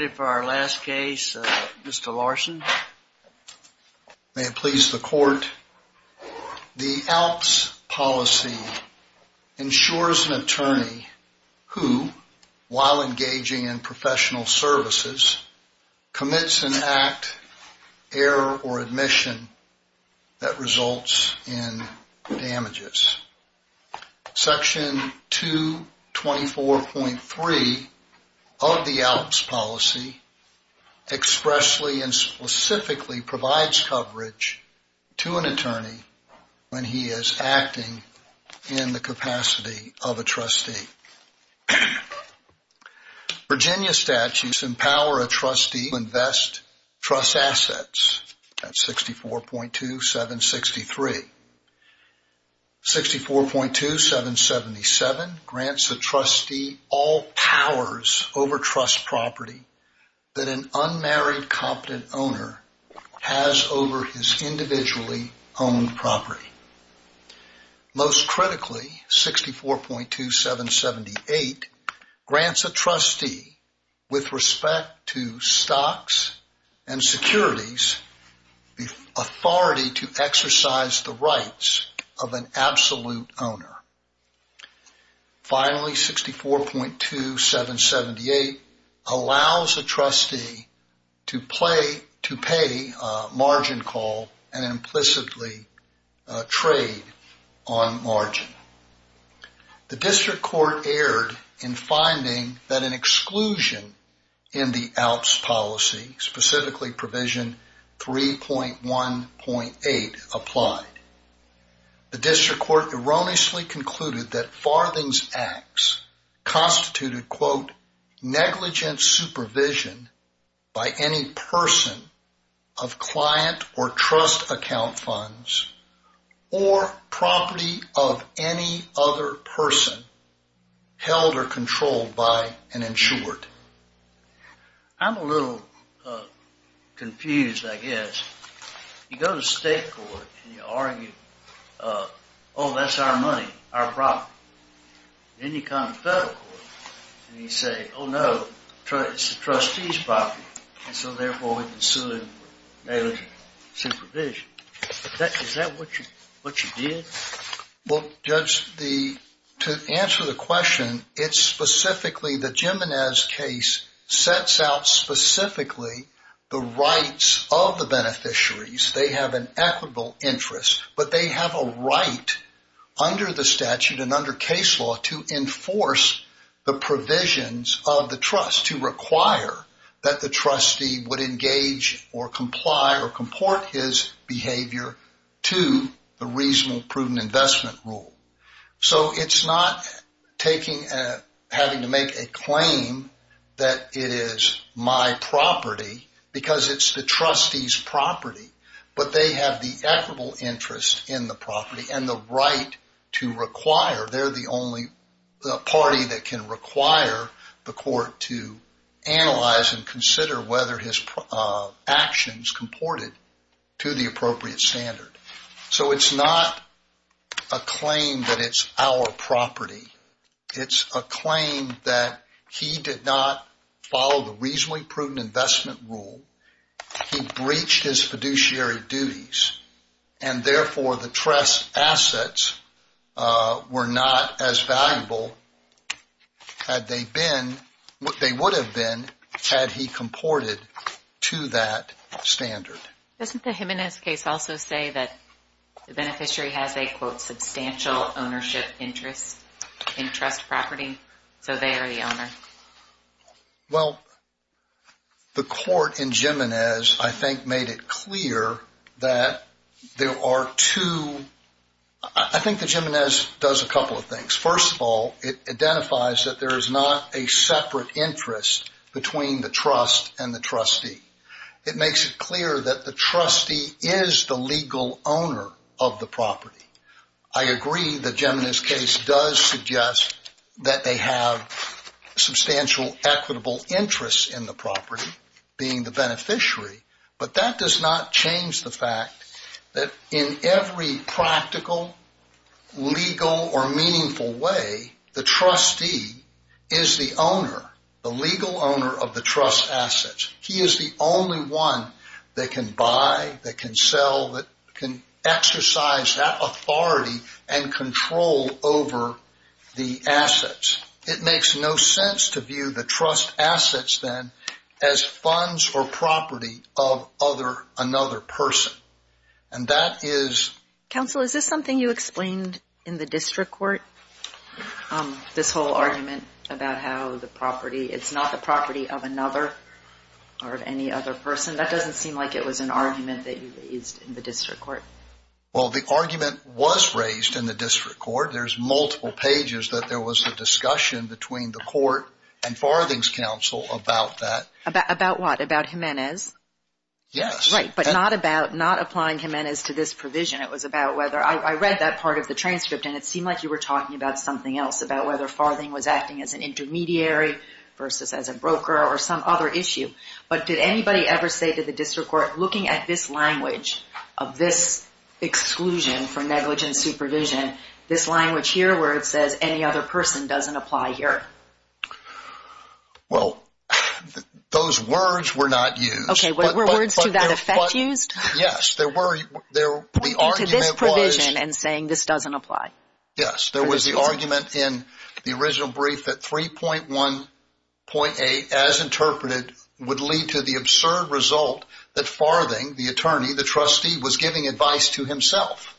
The ALPS policy ensures an attorney who, while engaging in professional services, commits an act, error, or admission that results in damages. Section 224.3 of the ALPS policy expressly and specifically provides coverage to an attorney when he is acting in the capacity of a trustee. Virginia statutes empower a trustee to invest trust assets at 64.2763. 64.2777 grants a trustee all powers over trust property that an unmarried, competent owner has over his individually owned property. Most critically, 64.2778 grants a trustee, with respect to stocks and securities, the authority to exercise the rights of an absolute owner. Finally, 64.2778 allows a trustee to pay a margin call and implicitly trade on margin. The District Court erred in finding that an exclusion in the ALPS policy, specifically provision 3.1.8, applied. The District Court erroneously concluded that Farthing's acts constituted, quote, negligent supervision by any person of client or trust account funds or property of any other person held or controlled by an insured. I'm a little confused, I guess. You go to state court and you argue, oh, that's our money, our property. Then you come to federal court and you say, oh, no, it's the trustee's property, and so therefore we've been suing negligent supervision. Is that what you did? Well, Judge, to answer the question, it's specifically the Jimenez case sets out specifically the rights of the beneficiaries. They have an equitable interest, but they have a right under the statute and under case law to enforce the provisions of the trust, to require that the trustee would engage or comply or comport his behavior to the reasonable, prudent investment rule. So it's not having to make a claim that it is my property because it's the trustee's property, but they have the equitable interest in the property and the right to require. They're the only party that can require the court to analyze and consider whether his actions comported to the appropriate standard. So it's not a claim that it's our property. It's a claim that he did not follow the reasonably prudent investment rule. He breached his fiduciary duties, and therefore the trust assets were not as valuable had they been, they would have been, had he comported to that standard. Doesn't the Jimenez case also say that the beneficiary has a, quote, substantial ownership interest in trust property, so they are the owner? Well, the court in Jimenez, I think, made it clear that there are two, I think the Jimenez does a couple of things. First of all, it identifies that there is not a separate interest between the trust and the trustee. It makes it clear that the trustee is the legal owner of the property. I agree that Jimenez case does suggest that they have substantial equitable interest in the property, being the beneficiary, but that does not change the fact that in every practical, legal, or meaningful way, the trustee is the owner, the legal owner of the trust assets. He is the only one that can buy, that can sell, that can exercise that authority and control over the assets. It makes no sense to view the trust assets, then, as funds or property of other, another person. And that is... Is there anything you explained in the district court, this whole argument about how the property, it's not the property of another or of any other person? That doesn't seem like it was an argument that you raised in the district court. Well, the argument was raised in the district court. There's multiple pages that there was a discussion between the court and Farthing's counsel about that. About what? About Jimenez? Yes. Right, but not about, not applying Jimenez to this provision. It was about whether, I read that part of the transcript and it seemed like you were talking about something else, about whether Farthing was acting as an intermediary versus as a broker or some other issue. But did anybody ever say to the district court, looking at this language of this exclusion for negligent supervision, this language here where it says any other person doesn't apply here? Well, those words were not used. Okay, were words to that effect used? Yes, there were. To this provision and saying this doesn't apply. Yes, there was the argument in the original brief that 3.1.8, as interpreted, would lead to the absurd result that Farthing, the attorney, the trustee, was giving advice to himself.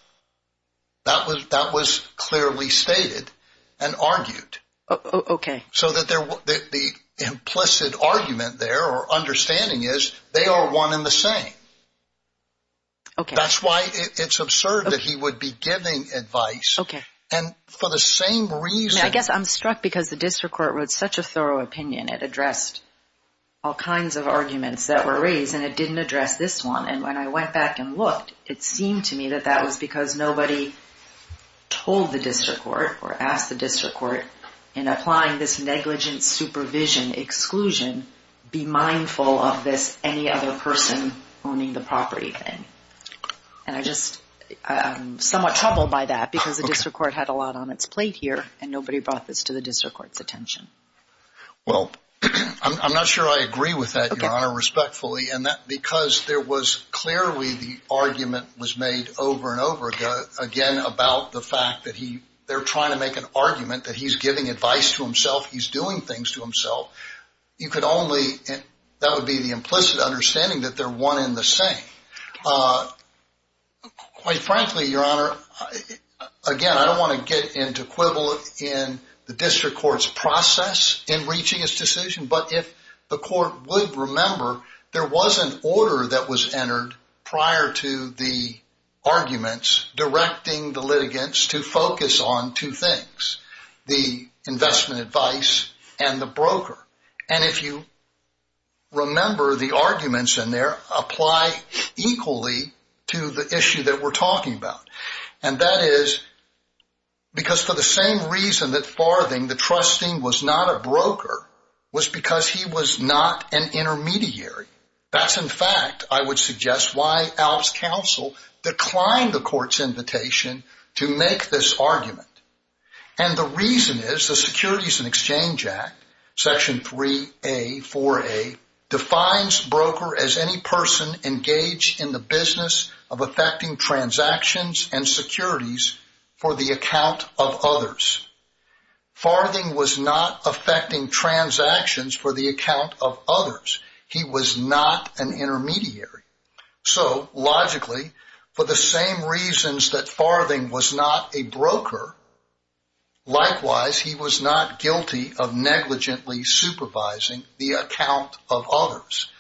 That was clearly stated and argued. Okay. So that the implicit argument there or understanding is they are one and the same. Okay. That's why it's absurd that he would be giving advice. Okay. And for the same reason. I guess I'm struck because the district court wrote such a thorough opinion. It addressed all kinds of arguments that were raised and it didn't address this one. And when I went back and looked, it seemed to me that that was because nobody told the district court or asked the district court in applying this negligent supervision exclusion, be mindful of this any other person owning the property thing. And I'm just somewhat troubled by that because the district court had a lot on its plate here and nobody brought this to the district court's attention. Well, I'm not sure I agree with that, Your Honor, respectfully. And that because there was clearly the argument was made over and over again about the fact that they're trying to make an argument that he's giving advice to himself, he's doing things to himself. You could only, that would be the implicit understanding that they're one and the same. Quite frankly, Your Honor, again, I don't want to get into quibble in the district court's process in reaching his decision. But if the court would remember, there was an order that was entered prior to the arguments directing the litigants to focus on two things, the investment advice and the broker. And if you remember, the arguments in there apply equally to the issue that we're talking about. And that is because for the same reason that Farthing, the trustee, was not a broker was because he was not an intermediary. That's, in fact, I would suggest why Alps Council declined the court's invitation to make this argument. And the reason is the Securities and Exchange Act, Section 3A, 4A, defines broker as any person engaged in the business of affecting transactions and securities for the account of others. Farthing was not affecting transactions for the account of others. He was not an intermediary. So logically, for the same reasons that Farthing was not a broker, likewise, he was not guilty of negligently supervising the account of others.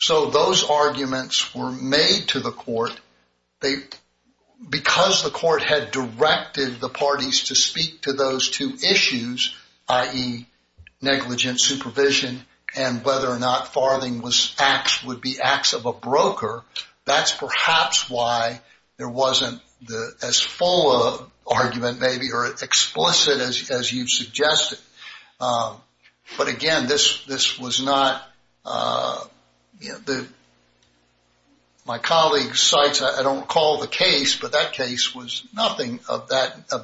So those arguments were made to the court. Because the court had directed the parties to speak to those two issues, i.e., negligent supervision and whether or not Farthing would be acts of a broker, that's perhaps why there wasn't as full of argument maybe or explicit as you've suggested. But, again, this was not – my colleague cites, I don't recall the case, but that case was nothing of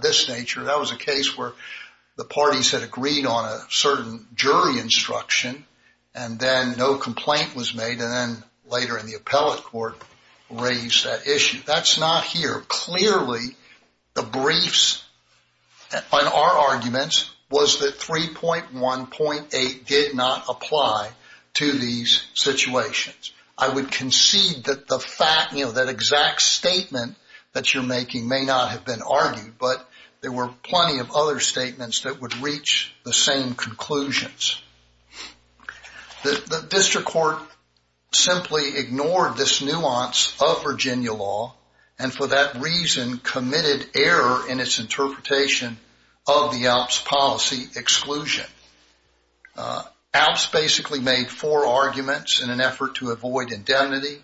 this nature. That was a case where the parties had agreed on a certain jury instruction and then no complaint was made and then later in the appellate court raised that issue. That's not here. The briefs on our arguments was that 3.1.8 did not apply to these situations. I would concede that the exact statement that you're making may not have been argued, but there were plenty of other statements that would reach the same conclusions. The district court simply ignored this nuance of Virginia law and for that reason committed error in its interpretation of the ALPS policy exclusion. ALPS basically made four arguments in an effort to avoid indemnity.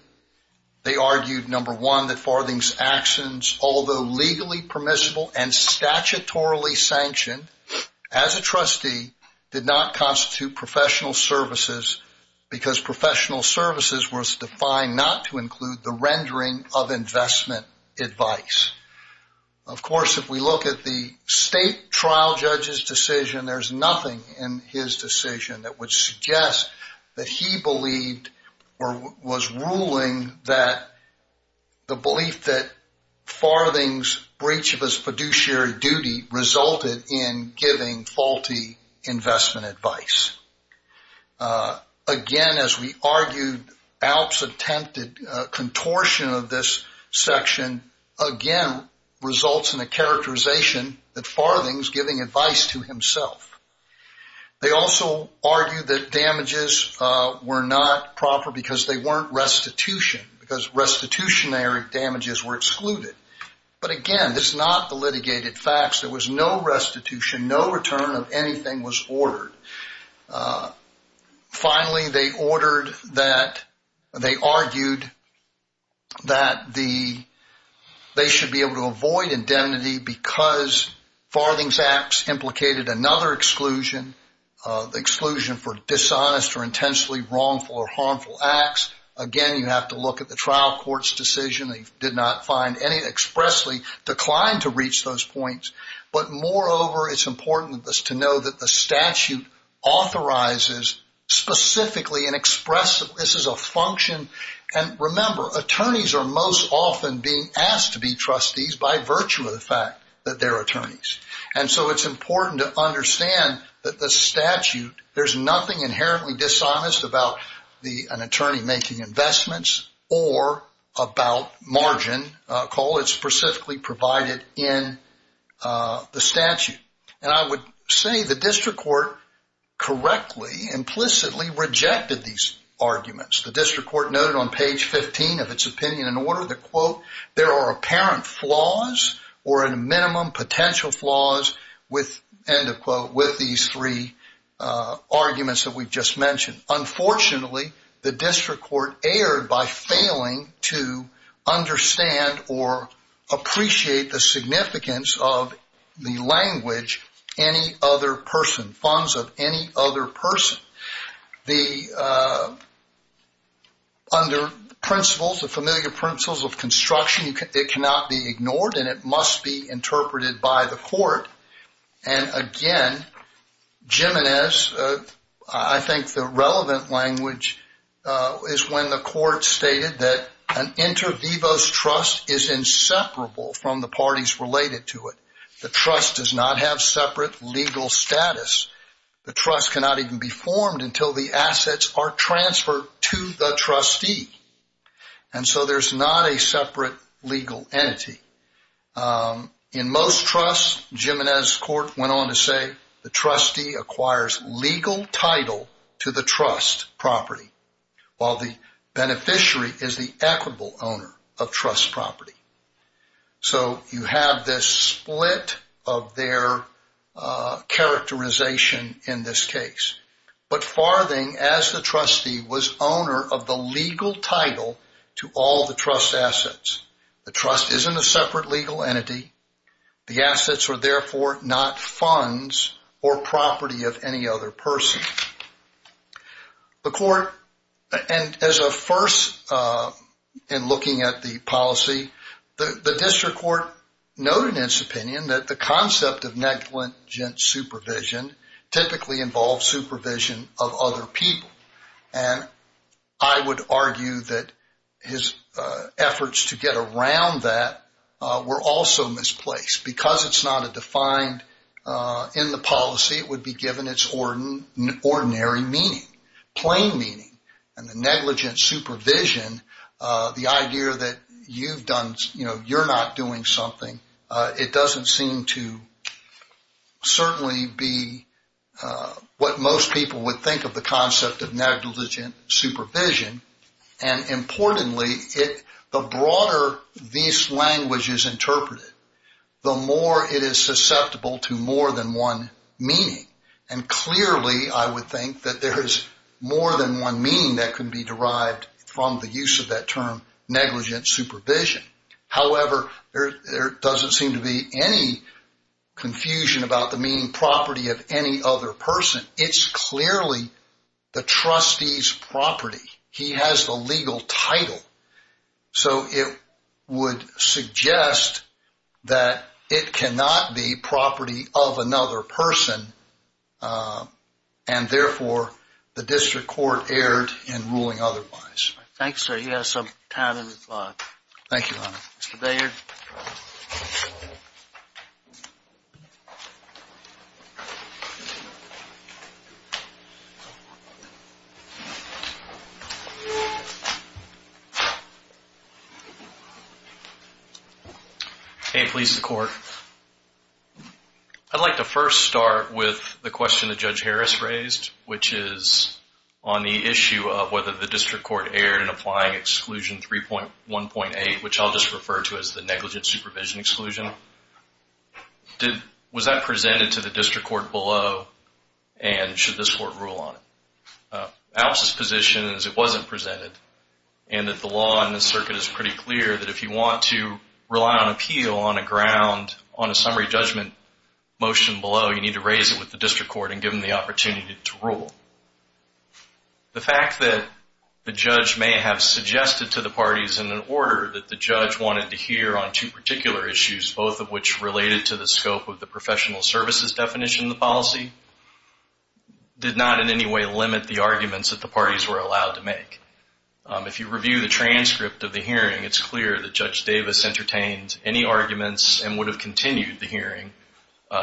They argued, number one, that Farthing's actions, although legally permissible and statutorily sanctioned as a trustee, did not constitute professional services because professional services were defined not to include the rendering of investment advice. Of course, if we look at the state trial judge's decision, there's nothing in his decision that would suggest that he believed or was ruling that the belief that Farthing's breach of his fiduciary duty resulted in giving faulty investment advice. Again, as we argued, ALPS attempted contortion of this section, again, results in a characterization that Farthing's giving advice to himself. They also argued that damages were not proper because they weren't restitution, because restitutionary damages were excluded. But again, this is not the litigated facts. There was no restitution. No return of anything was ordered. Finally, they argued that they should be able to avoid indemnity because Farthing's acts implicated another exclusion, the exclusion for dishonest or intensely wrongful or harmful acts. Again, you have to look at the trial court's decision. They did not find any expressly declined to reach those points. But moreover, it's important to know that the statute authorizes specifically and expresses this as a function. And remember, attorneys are most often being asked to be trustees by virtue of the fact that they're attorneys. And so it's important to understand that the statute, there's nothing inherently dishonest about an attorney making investments or about margin. It's specifically provided in the statute. And I would say the district court correctly, implicitly rejected these arguments. The district court noted on page 15 of its opinion in order to, quote, there are apparent flaws or a minimum potential flaws with, end of quote, with these three arguments that we've just mentioned. Unfortunately, the district court erred by failing to understand or appreciate the significance of the language any other person, funds of any other person. Under principles, the familiar principles of construction, it cannot be ignored and it must be interpreted by the court. And again, Jimenez, I think the relevant language is when the court stated that an inter vivos trust is inseparable from the parties related to it. The trust does not have separate legal status. The trust cannot even be formed until the assets are transferred to the trustee. And so there's not a separate legal entity. In most trusts, Jimenez court went on to say the trustee acquires legal title to the trust property while the beneficiary is the equitable owner of trust property. So you have this split of their characterization in this case. But Farthing, as the trustee, was owner of the legal title to all the trust assets. The trust isn't a separate legal entity. The assets are therefore not funds or property of any other person. The court, and as a first in looking at the policy, the district court noted in its opinion that the concept of negligent supervision typically involves supervision of other people. And I would argue that his efforts to get around that were also misplaced. Because it's not defined in the policy, it would be given its ordinary meaning, plain meaning. And the negligent supervision, the idea that you're not doing something, it doesn't seem to certainly be what most people would think of the concept of negligent supervision. And importantly, the broader this language is interpreted, the more it is susceptible to more than one meaning. And clearly I would think that there is more than one meaning that can be derived from the use of that term negligent supervision. However, there doesn't seem to be any confusion about the meaning property of any other person. It's clearly the trustee's property. He has the legal title. So it would suggest that it cannot be property of another person. And therefore, the district court erred in ruling otherwise. Thank you, sir. Thank you, Leonard. Mr. Beyer. Hey, police and court. I'd like to first start with the question that Judge Harris raised, which is on the issue of whether the district court erred in applying Exclusion 3.1.8, which I'll just refer to as the negligent supervision exclusion. Was that presented to the district court below, and should this court rule on it? Al's position is it wasn't presented, and that the law in this circuit is pretty clear that if you want to rely on appeal on a ground, on a summary judgment motion below, you need to raise it with the district court and give them the opportunity to rule. The fact that the judge may have suggested to the parties in an order that the judge wanted to hear on two particular issues, both of which related to the scope of the professional services definition of the policy, did not in any way limit the arguments that the parties were allowed to make. If you review the transcript of the hearing, it's clear that Judge Davis entertained any arguments and would have continued the hearing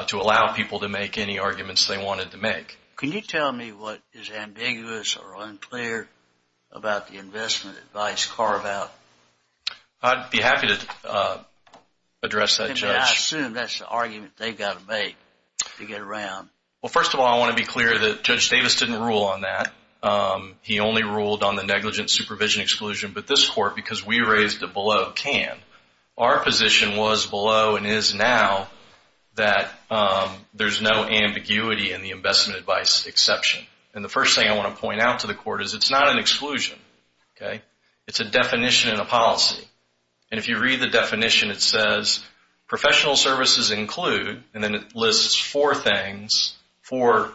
to allow people to make any arguments they wanted to make. Can you tell me what is ambiguous or unclear about the investment advice carve-out? I'd be happy to address that, Judge. I assume that's the argument they've got to make to get around. First of all, I want to be clear that Judge Davis didn't rule on that. He only ruled on the negligent supervision exclusion, but this court, because we raised it below, can. Our position was below and is now that there's no ambiguity in the investment advice exception. The first thing I want to point out to the court is it's not an exclusion. It's a definition in a policy. If you read the definition, it says professional services include, and then it lists four things, four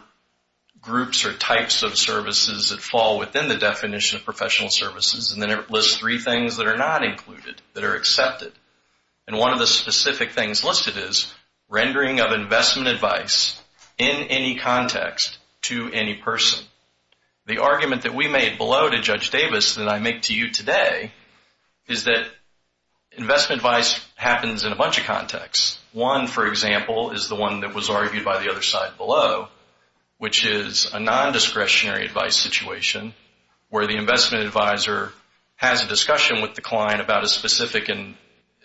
groups or types of services that fall within the definition of professional services. Then it lists three things that are not included, that are accepted. One of the specific things listed is rendering of investment advice in any context to any person. The argument that we made below to Judge Davis that I make to you today is that investment advice happens in a bunch of contexts. One, for example, is the one that was argued by the other side below, which is a non-discretionary advice situation where the investment advisor has a discussion with the client about a specific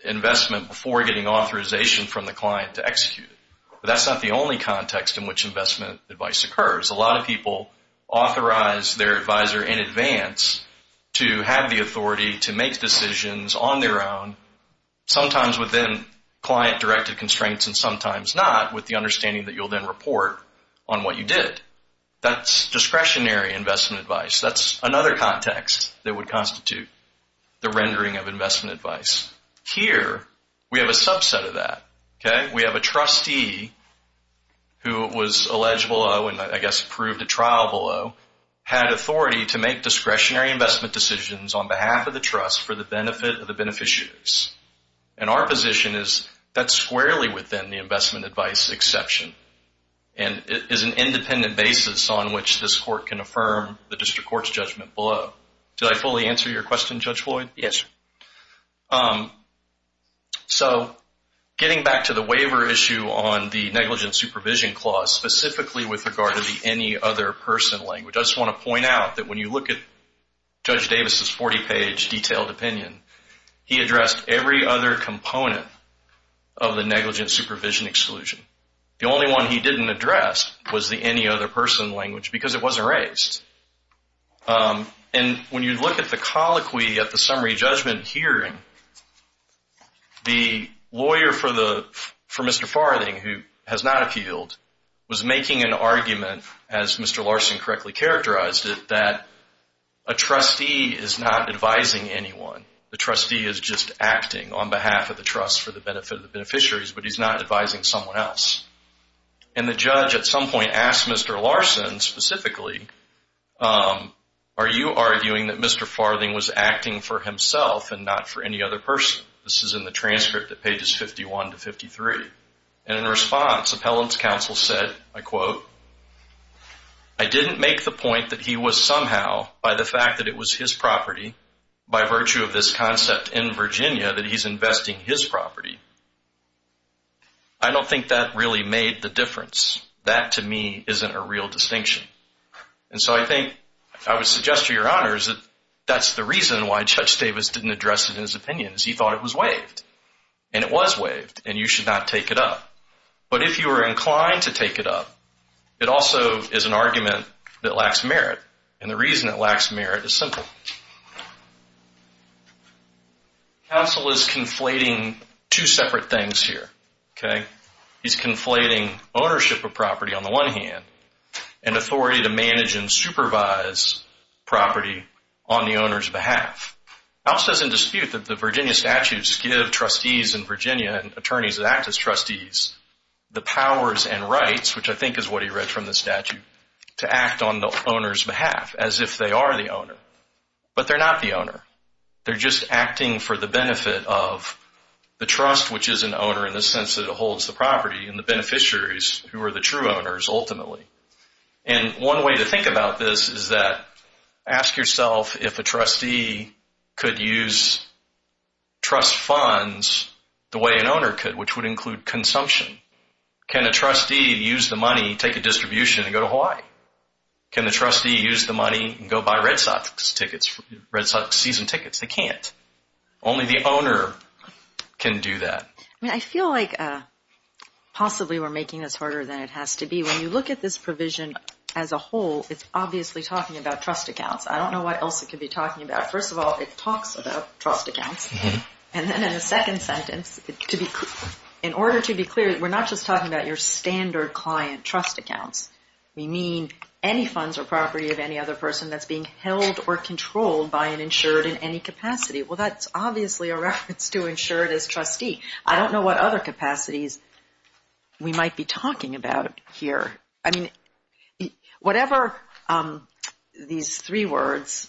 investment before getting authorization from the client to execute it. That's not the only context in which investment advice occurs. A lot of people authorize their advisor in advance to have the authority to make decisions on their own, sometimes within client-directed constraints and sometimes not, with the understanding that you'll then report on what you did. That's discretionary investment advice. That's another context that would constitute the rendering of investment advice. Here, we have a subset of that. We have a trustee who was alleged below and, I guess, approved at trial below, had authority to make discretionary investment decisions on behalf of the trust for the benefit of the beneficiaries. Our position is that's squarely within the investment advice exception and is an independent basis on which this court can affirm the district court's judgment below. Did I fully answer your question, Judge Floyd? Yes. Thank you, Judge. Getting back to the waiver issue on the negligent supervision clause, specifically with regard to the any other person language, I just want to point out that when you look at Judge Davis' 40-page detailed opinion, he addressed every other component of the negligent supervision exclusion. The only one he didn't address was the any other person language because it wasn't raised. And when you look at the colloquy at the summary judgment hearing, the lawyer for Mr. Farthing, who has not appealed, was making an argument, as Mr. Larson correctly characterized it, that a trustee is not advising anyone. The trustee is just acting on behalf of the trust for the benefit of the beneficiaries, but he's not advising someone else. And the judge at some point asked Mr. Larson specifically, are you arguing that Mr. Farthing was acting for himself and not for any other person? This is in the transcript at pages 51 to 53. And in response, appellant's counsel said, I quote, I didn't make the point that he was somehow, by the fact that it was his property, by virtue of this concept in Virginia, that he's investing his property. I don't think that really made the difference. That, to me, isn't a real distinction. And so I think I would suggest to your honors that that's the reason why Judge Davis didn't address it in his opinion, is he thought it was waived. And it was waived, and you should not take it up. But if you were inclined to take it up, it also is an argument that lacks merit. And the reason it lacks merit is simple. Counsel is conflating two separate things here. He's conflating ownership of property, on the one hand, and authority to manage and supervise property on the owner's behalf. Counsel doesn't dispute that the Virginia statutes give trustees in Virginia, attorneys that act as trustees, the powers and rights, which I think is what he read from the statute, to act on the owner's behalf, as if they are the owner. But they're not the owner. They're just acting for the benefit of the trust, which is an owner, in the sense that it holds the property, and the beneficiaries, who are the true owners, ultimately. And one way to think about this is that, ask yourself if a trustee could use trust funds the way an owner could, which would include consumption. Can a trustee use the money, take a distribution, and go to Hawaii? Can the trustee use the money and go buy Red Sox season tickets? They can't. Only the owner can do that. I mean, I feel like possibly we're making this harder than it has to be. When you look at this provision as a whole, it's obviously talking about trust accounts. I don't know what else it could be talking about. First of all, it talks about trust accounts. And then in the second sentence, in order to be clear, we're not just talking about your standard client trust accounts. We mean any funds or property of any other person that's being held or controlled by an insured in any capacity. Well, that's obviously a reference to insured as trustee. I don't know what other capacities we might be talking about here. I mean, whatever these three words,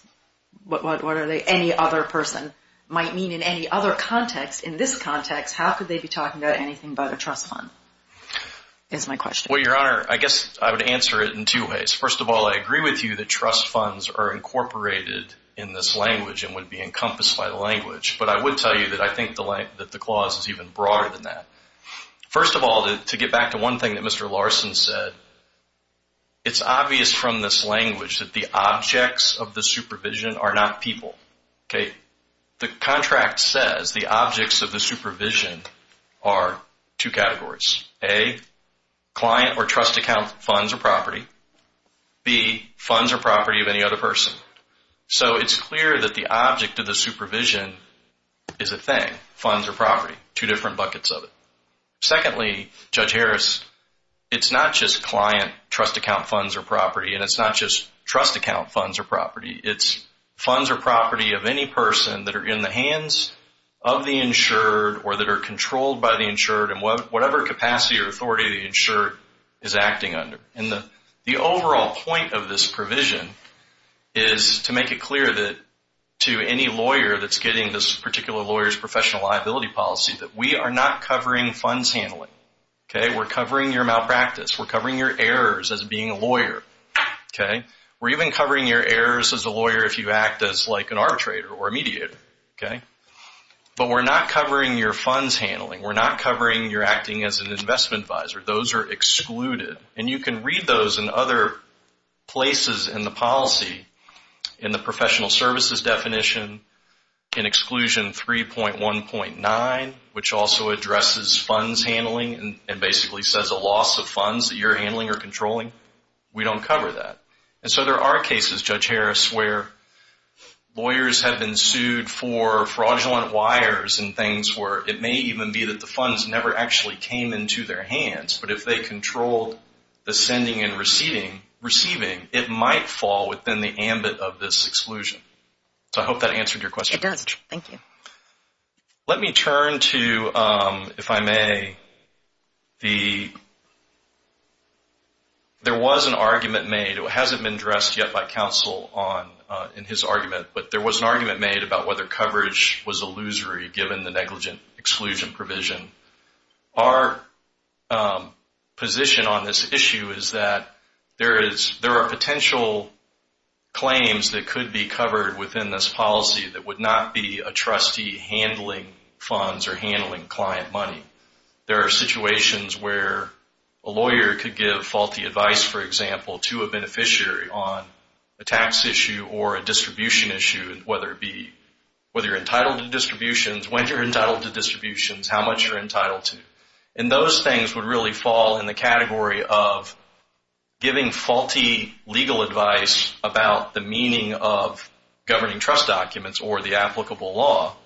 what are they? What does any other person might mean in any other context? In this context, how could they be talking about anything but a trust fund is my question. Well, Your Honor, I guess I would answer it in two ways. First of all, I agree with you that trust funds are incorporated in this language and would be encompassed by the language. But I would tell you that I think that the clause is even broader than that. First of all, to get back to one thing that Mr. Larson said, it's obvious from this language that the objects of the supervision are not people. The contract says the objects of the supervision are two categories. A, client or trust account funds or property. B, funds or property of any other person. So it's clear that the object of the supervision is a thing, funds or property, two different buckets of it. Secondly, Judge Harris, it's not just client trust account funds or property and it's not just trust account funds or property. It's funds or property of any person that are in the hands of the insured or that are controlled by the insured in whatever capacity or authority the insured is acting under. And the overall point of this provision is to make it clear that to any lawyer that's getting this particular lawyer's professional liability policy that we are not covering funds handling. We're covering your malpractice. We're covering your errors as being a lawyer. We're even covering your errors as a lawyer if you act as like an arbitrator or a mediator. But we're not covering your funds handling. We're not covering your acting as an investment advisor. Those are excluded. And you can read those in other places in the policy in the professional services definition in exclusion 3.1.9, which also addresses funds handling and basically says a loss of funds that you're handling or controlling. We don't cover that. And so there are cases, Judge Harris, where lawyers have been sued for fraudulent wires and things where it may even be that the funds never actually came into their hands. But if they controlled the sending and receiving, it might fall within the ambit of this exclusion. So I hope that answered your question. It does. Thank you. Let me turn to, if I may, there was an argument made. It hasn't been addressed yet by counsel in his argument, but there was an argument made about whether coverage was illusory given the negligent exclusion provision. Our position on this issue is that there are potential claims that could be covered within this policy that would not be a trustee handling funds or handling client money. There are situations where a lawyer could give faulty advice, for example, to a beneficiary on a tax issue or a distribution issue, whether you're entitled to distributions, when you're entitled to distributions, how much you're entitled to. And those things would really fall in the category of giving faulty legal advice about the meaning of governing trust documents or the applicable law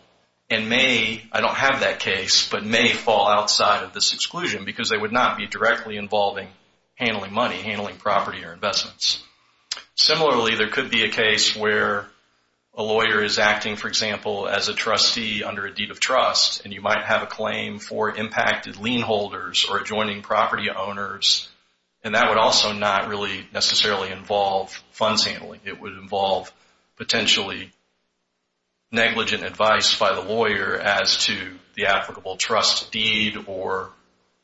and may, I don't have that case, but may fall outside of this exclusion because they would not be directly involving handling money, handling property or investments. Similarly, there could be a case where a lawyer is acting, for example, as a trustee under a deed of trust and you might have a claim for impacted lien holders or adjoining property owners and that would also not really necessarily involve funds handling. It would involve potentially negligent advice by the lawyer as to the applicable trust deed or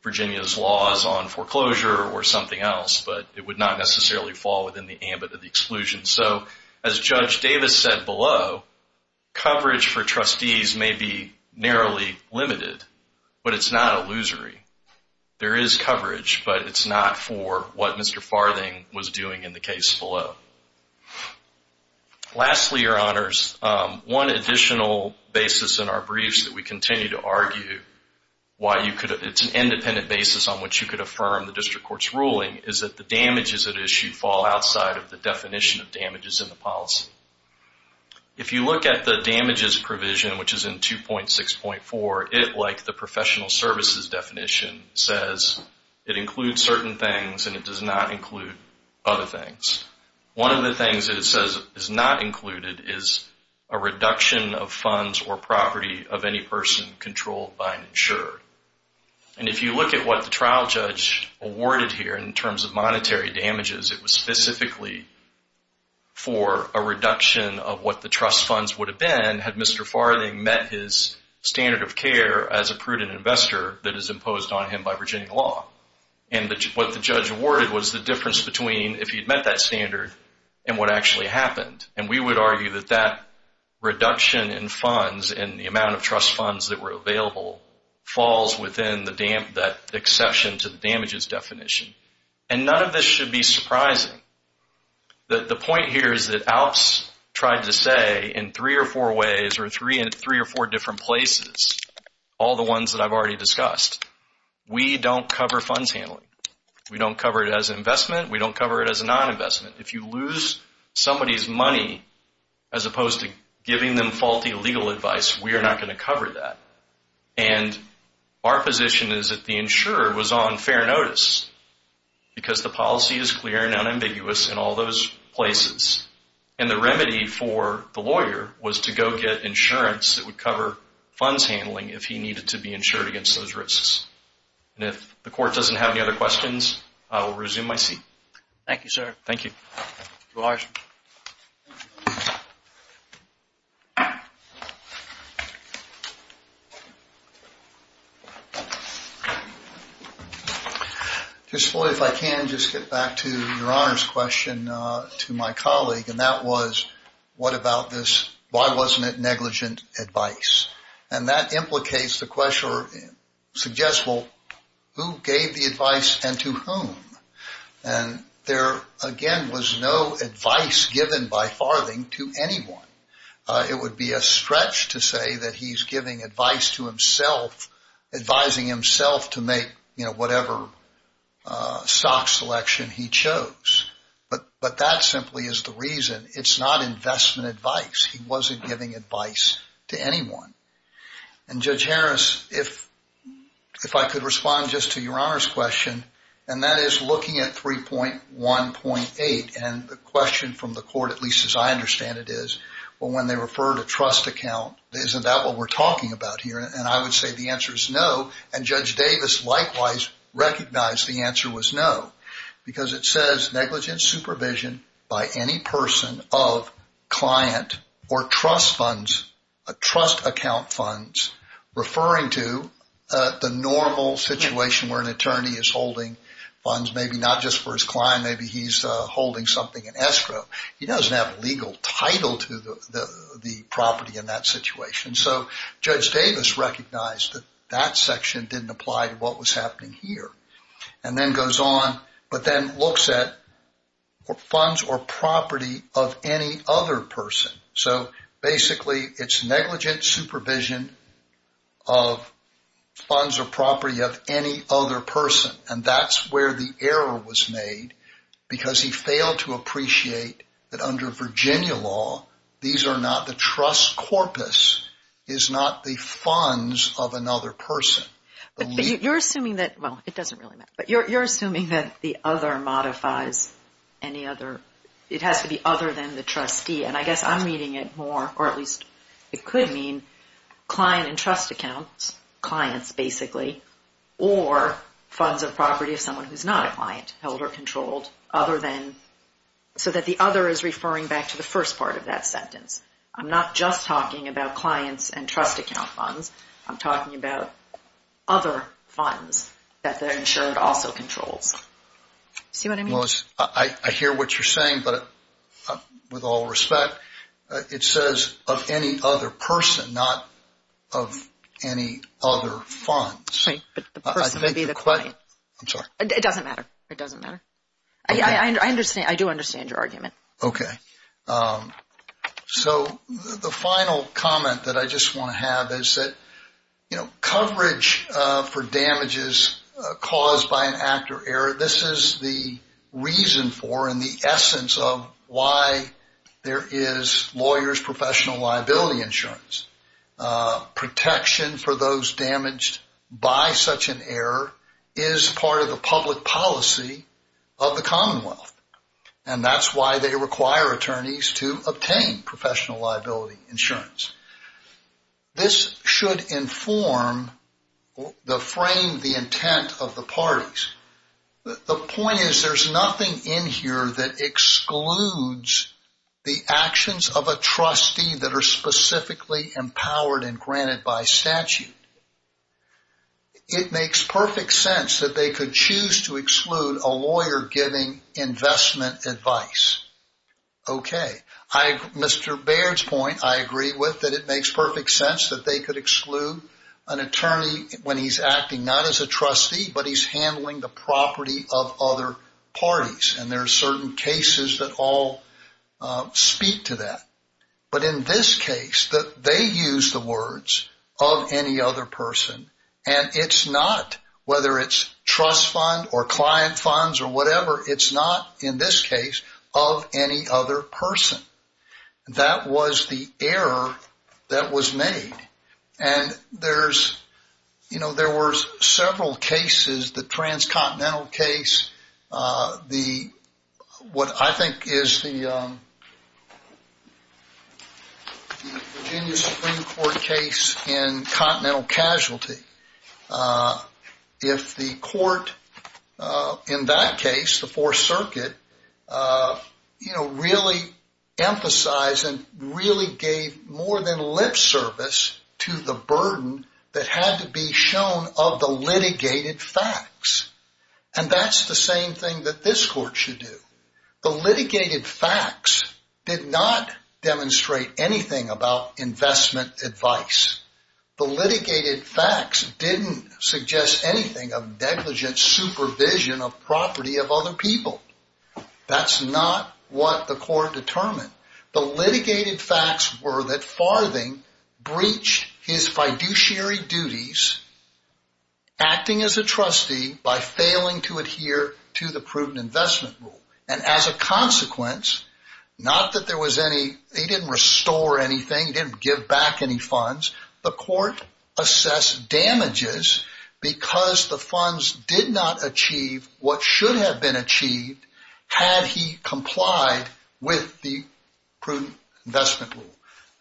Virginia's laws on foreclosure or something else, but it would not necessarily fall within the ambit of the exclusion. So as Judge Davis said below, coverage for trustees may be narrowly limited, but it's not illusory. There is coverage, but it's not for what Mr. Farthing was doing in the case below. Lastly, Your Honors, one additional basis in our briefs that we continue to argue why it's an independent basis on which you could affirm the district court's damages in the policy. If you look at the damages provision, which is in 2.6.4, it, like the professional services definition, says it includes certain things and it does not include other things. One of the things that it says is not included is a reduction of funds or property of any person controlled by an insurer. And if you look at what the trial judge awarded here in terms of monetary damages, it was specifically for a reduction of what the trust funds would have been had Mr. Farthing met his standard of care as a prudent investor that is imposed on him by Virginia law. And what the judge awarded was the difference between if he'd met that standard and what actually happened. And we would argue that that reduction in funds and the amount of trust funds that were available falls within that exception to the damages definition. And none of this should be surprising. The point here is that ALPS tried to say in three or four ways or three or four different places, all the ones that I've already discussed, we don't cover funds handling. We don't cover it as an investment. We don't cover it as a non-investment. If you lose somebody's money as opposed to giving them faulty legal advice, we are not going to cover that. And our position is that the insurer was on fair notice because the policy is clear and unambiguous in all those places. And the remedy for the lawyer was to go get insurance that would cover funds handling if he needed to be insured against those risks. And if the court doesn't have any other questions, I will resume my seat. Thank you, sir. Thank you. Mr. Larsen. Just, Floyd, if I can, just get back to your Honor's question to my colleague, and that was what about this, why wasn't it negligent advice? And that implicates the question or suggests, well, who gave the advice and to whom? And there, again, was no advice given by Farthing to anyone. It would be a stretch to say that he's giving advice to himself, advising himself to make, you know, whatever stock selection he chose. But that simply is the reason. It's not investment advice. He wasn't giving advice to anyone. And, Judge Harris, if I could respond just to your Honor's question, and that is looking at 3.1.8, and the question from the court, at least as I understand it is, well, when they refer to trust account, isn't that what we're talking about here? And I would say the answer is no, and Judge Davis, likewise, recognized the answer was no because it says negligent supervision by any person of client or trust funds, trust account funds, referring to the normal situation where an attorney is holding funds, maybe not just for his client. Maybe he's holding something in escrow. He doesn't have a legal title to the property in that situation. So Judge Davis recognized that that section didn't apply to what was happening here and then goes on but then looks at funds or property of any other person. So basically it's negligent supervision of funds or property of any other person, and that's where the error was made because he failed to appreciate that under Virginia law these are not the trust corpus, is not the funds of another person. But you're assuming that, well, it doesn't really matter, but you're assuming that the other modifies any other, it has to be other than the trustee. And I guess I'm reading it more, or at least it could mean client and trust accounts, clients basically, or funds or property of someone who's not a client, held or controlled, other than so that the other is referring back to the first part of that sentence. I'm not just talking about clients and trust account funds. I'm talking about other funds that the insured also controls. See what I mean? I hear what you're saying, but with all respect, it says of any other person, not of any other funds. Right, but the person would be the client. I'm sorry. It doesn't matter. It doesn't matter. I do understand your argument. Okay. So the final comment that I just want to have is that, you know, in the essence of why there is lawyers' professional liability insurance, protection for those damaged by such an error is part of the public policy of the Commonwealth, and that's why they require attorneys to obtain professional liability insurance. This should inform the frame, the intent of the parties. The point is there's nothing in here that excludes the actions of a trustee that are specifically empowered and granted by statute. It makes perfect sense that they could choose to exclude a lawyer giving investment advice. Okay. Mr. Baird's point I agree with, that it makes perfect sense that they could exclude an attorney when he's acting not as a trustee, but he's handling the property of other parties, and there are certain cases that all speak to that. But in this case, they use the words of any other person, and it's not whether it's trust fund or client funds or whatever, it's not in this case of any other person. That was the error that was made, and there were several cases, the transcontinental case, what I think is the Virginia Supreme Court case in continental casualty. If the court in that case, the Fourth Circuit, really emphasized and really gave more than lip service to the burden that had to be shown of the litigated facts, and that's the same thing that this court should do. The litigated facts did not demonstrate anything about investment advice. The litigated facts didn't suggest anything of negligent supervision of the property of other people. That's not what the court determined. The litigated facts were that Farthing breached his fiduciary duties, acting as a trustee by failing to adhere to the prudent investment rule, and as a consequence, not that there was any, he didn't restore anything, he didn't give back any funds. The court assessed damages because the funds did not achieve what should have been achieved had he complied with the prudent investment rule.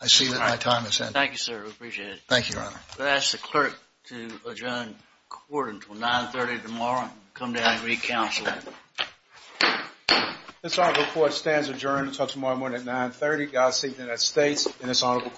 I see that my time has ended. Thank you, sir. We appreciate it. Thank you, Your Honor. I'm going to ask the clerk to adjourn court until 9.30 tomorrow and come down and re-counsel. This honorable court stands adjourned until tomorrow morning at 9.30. God save the United States and this honorable court.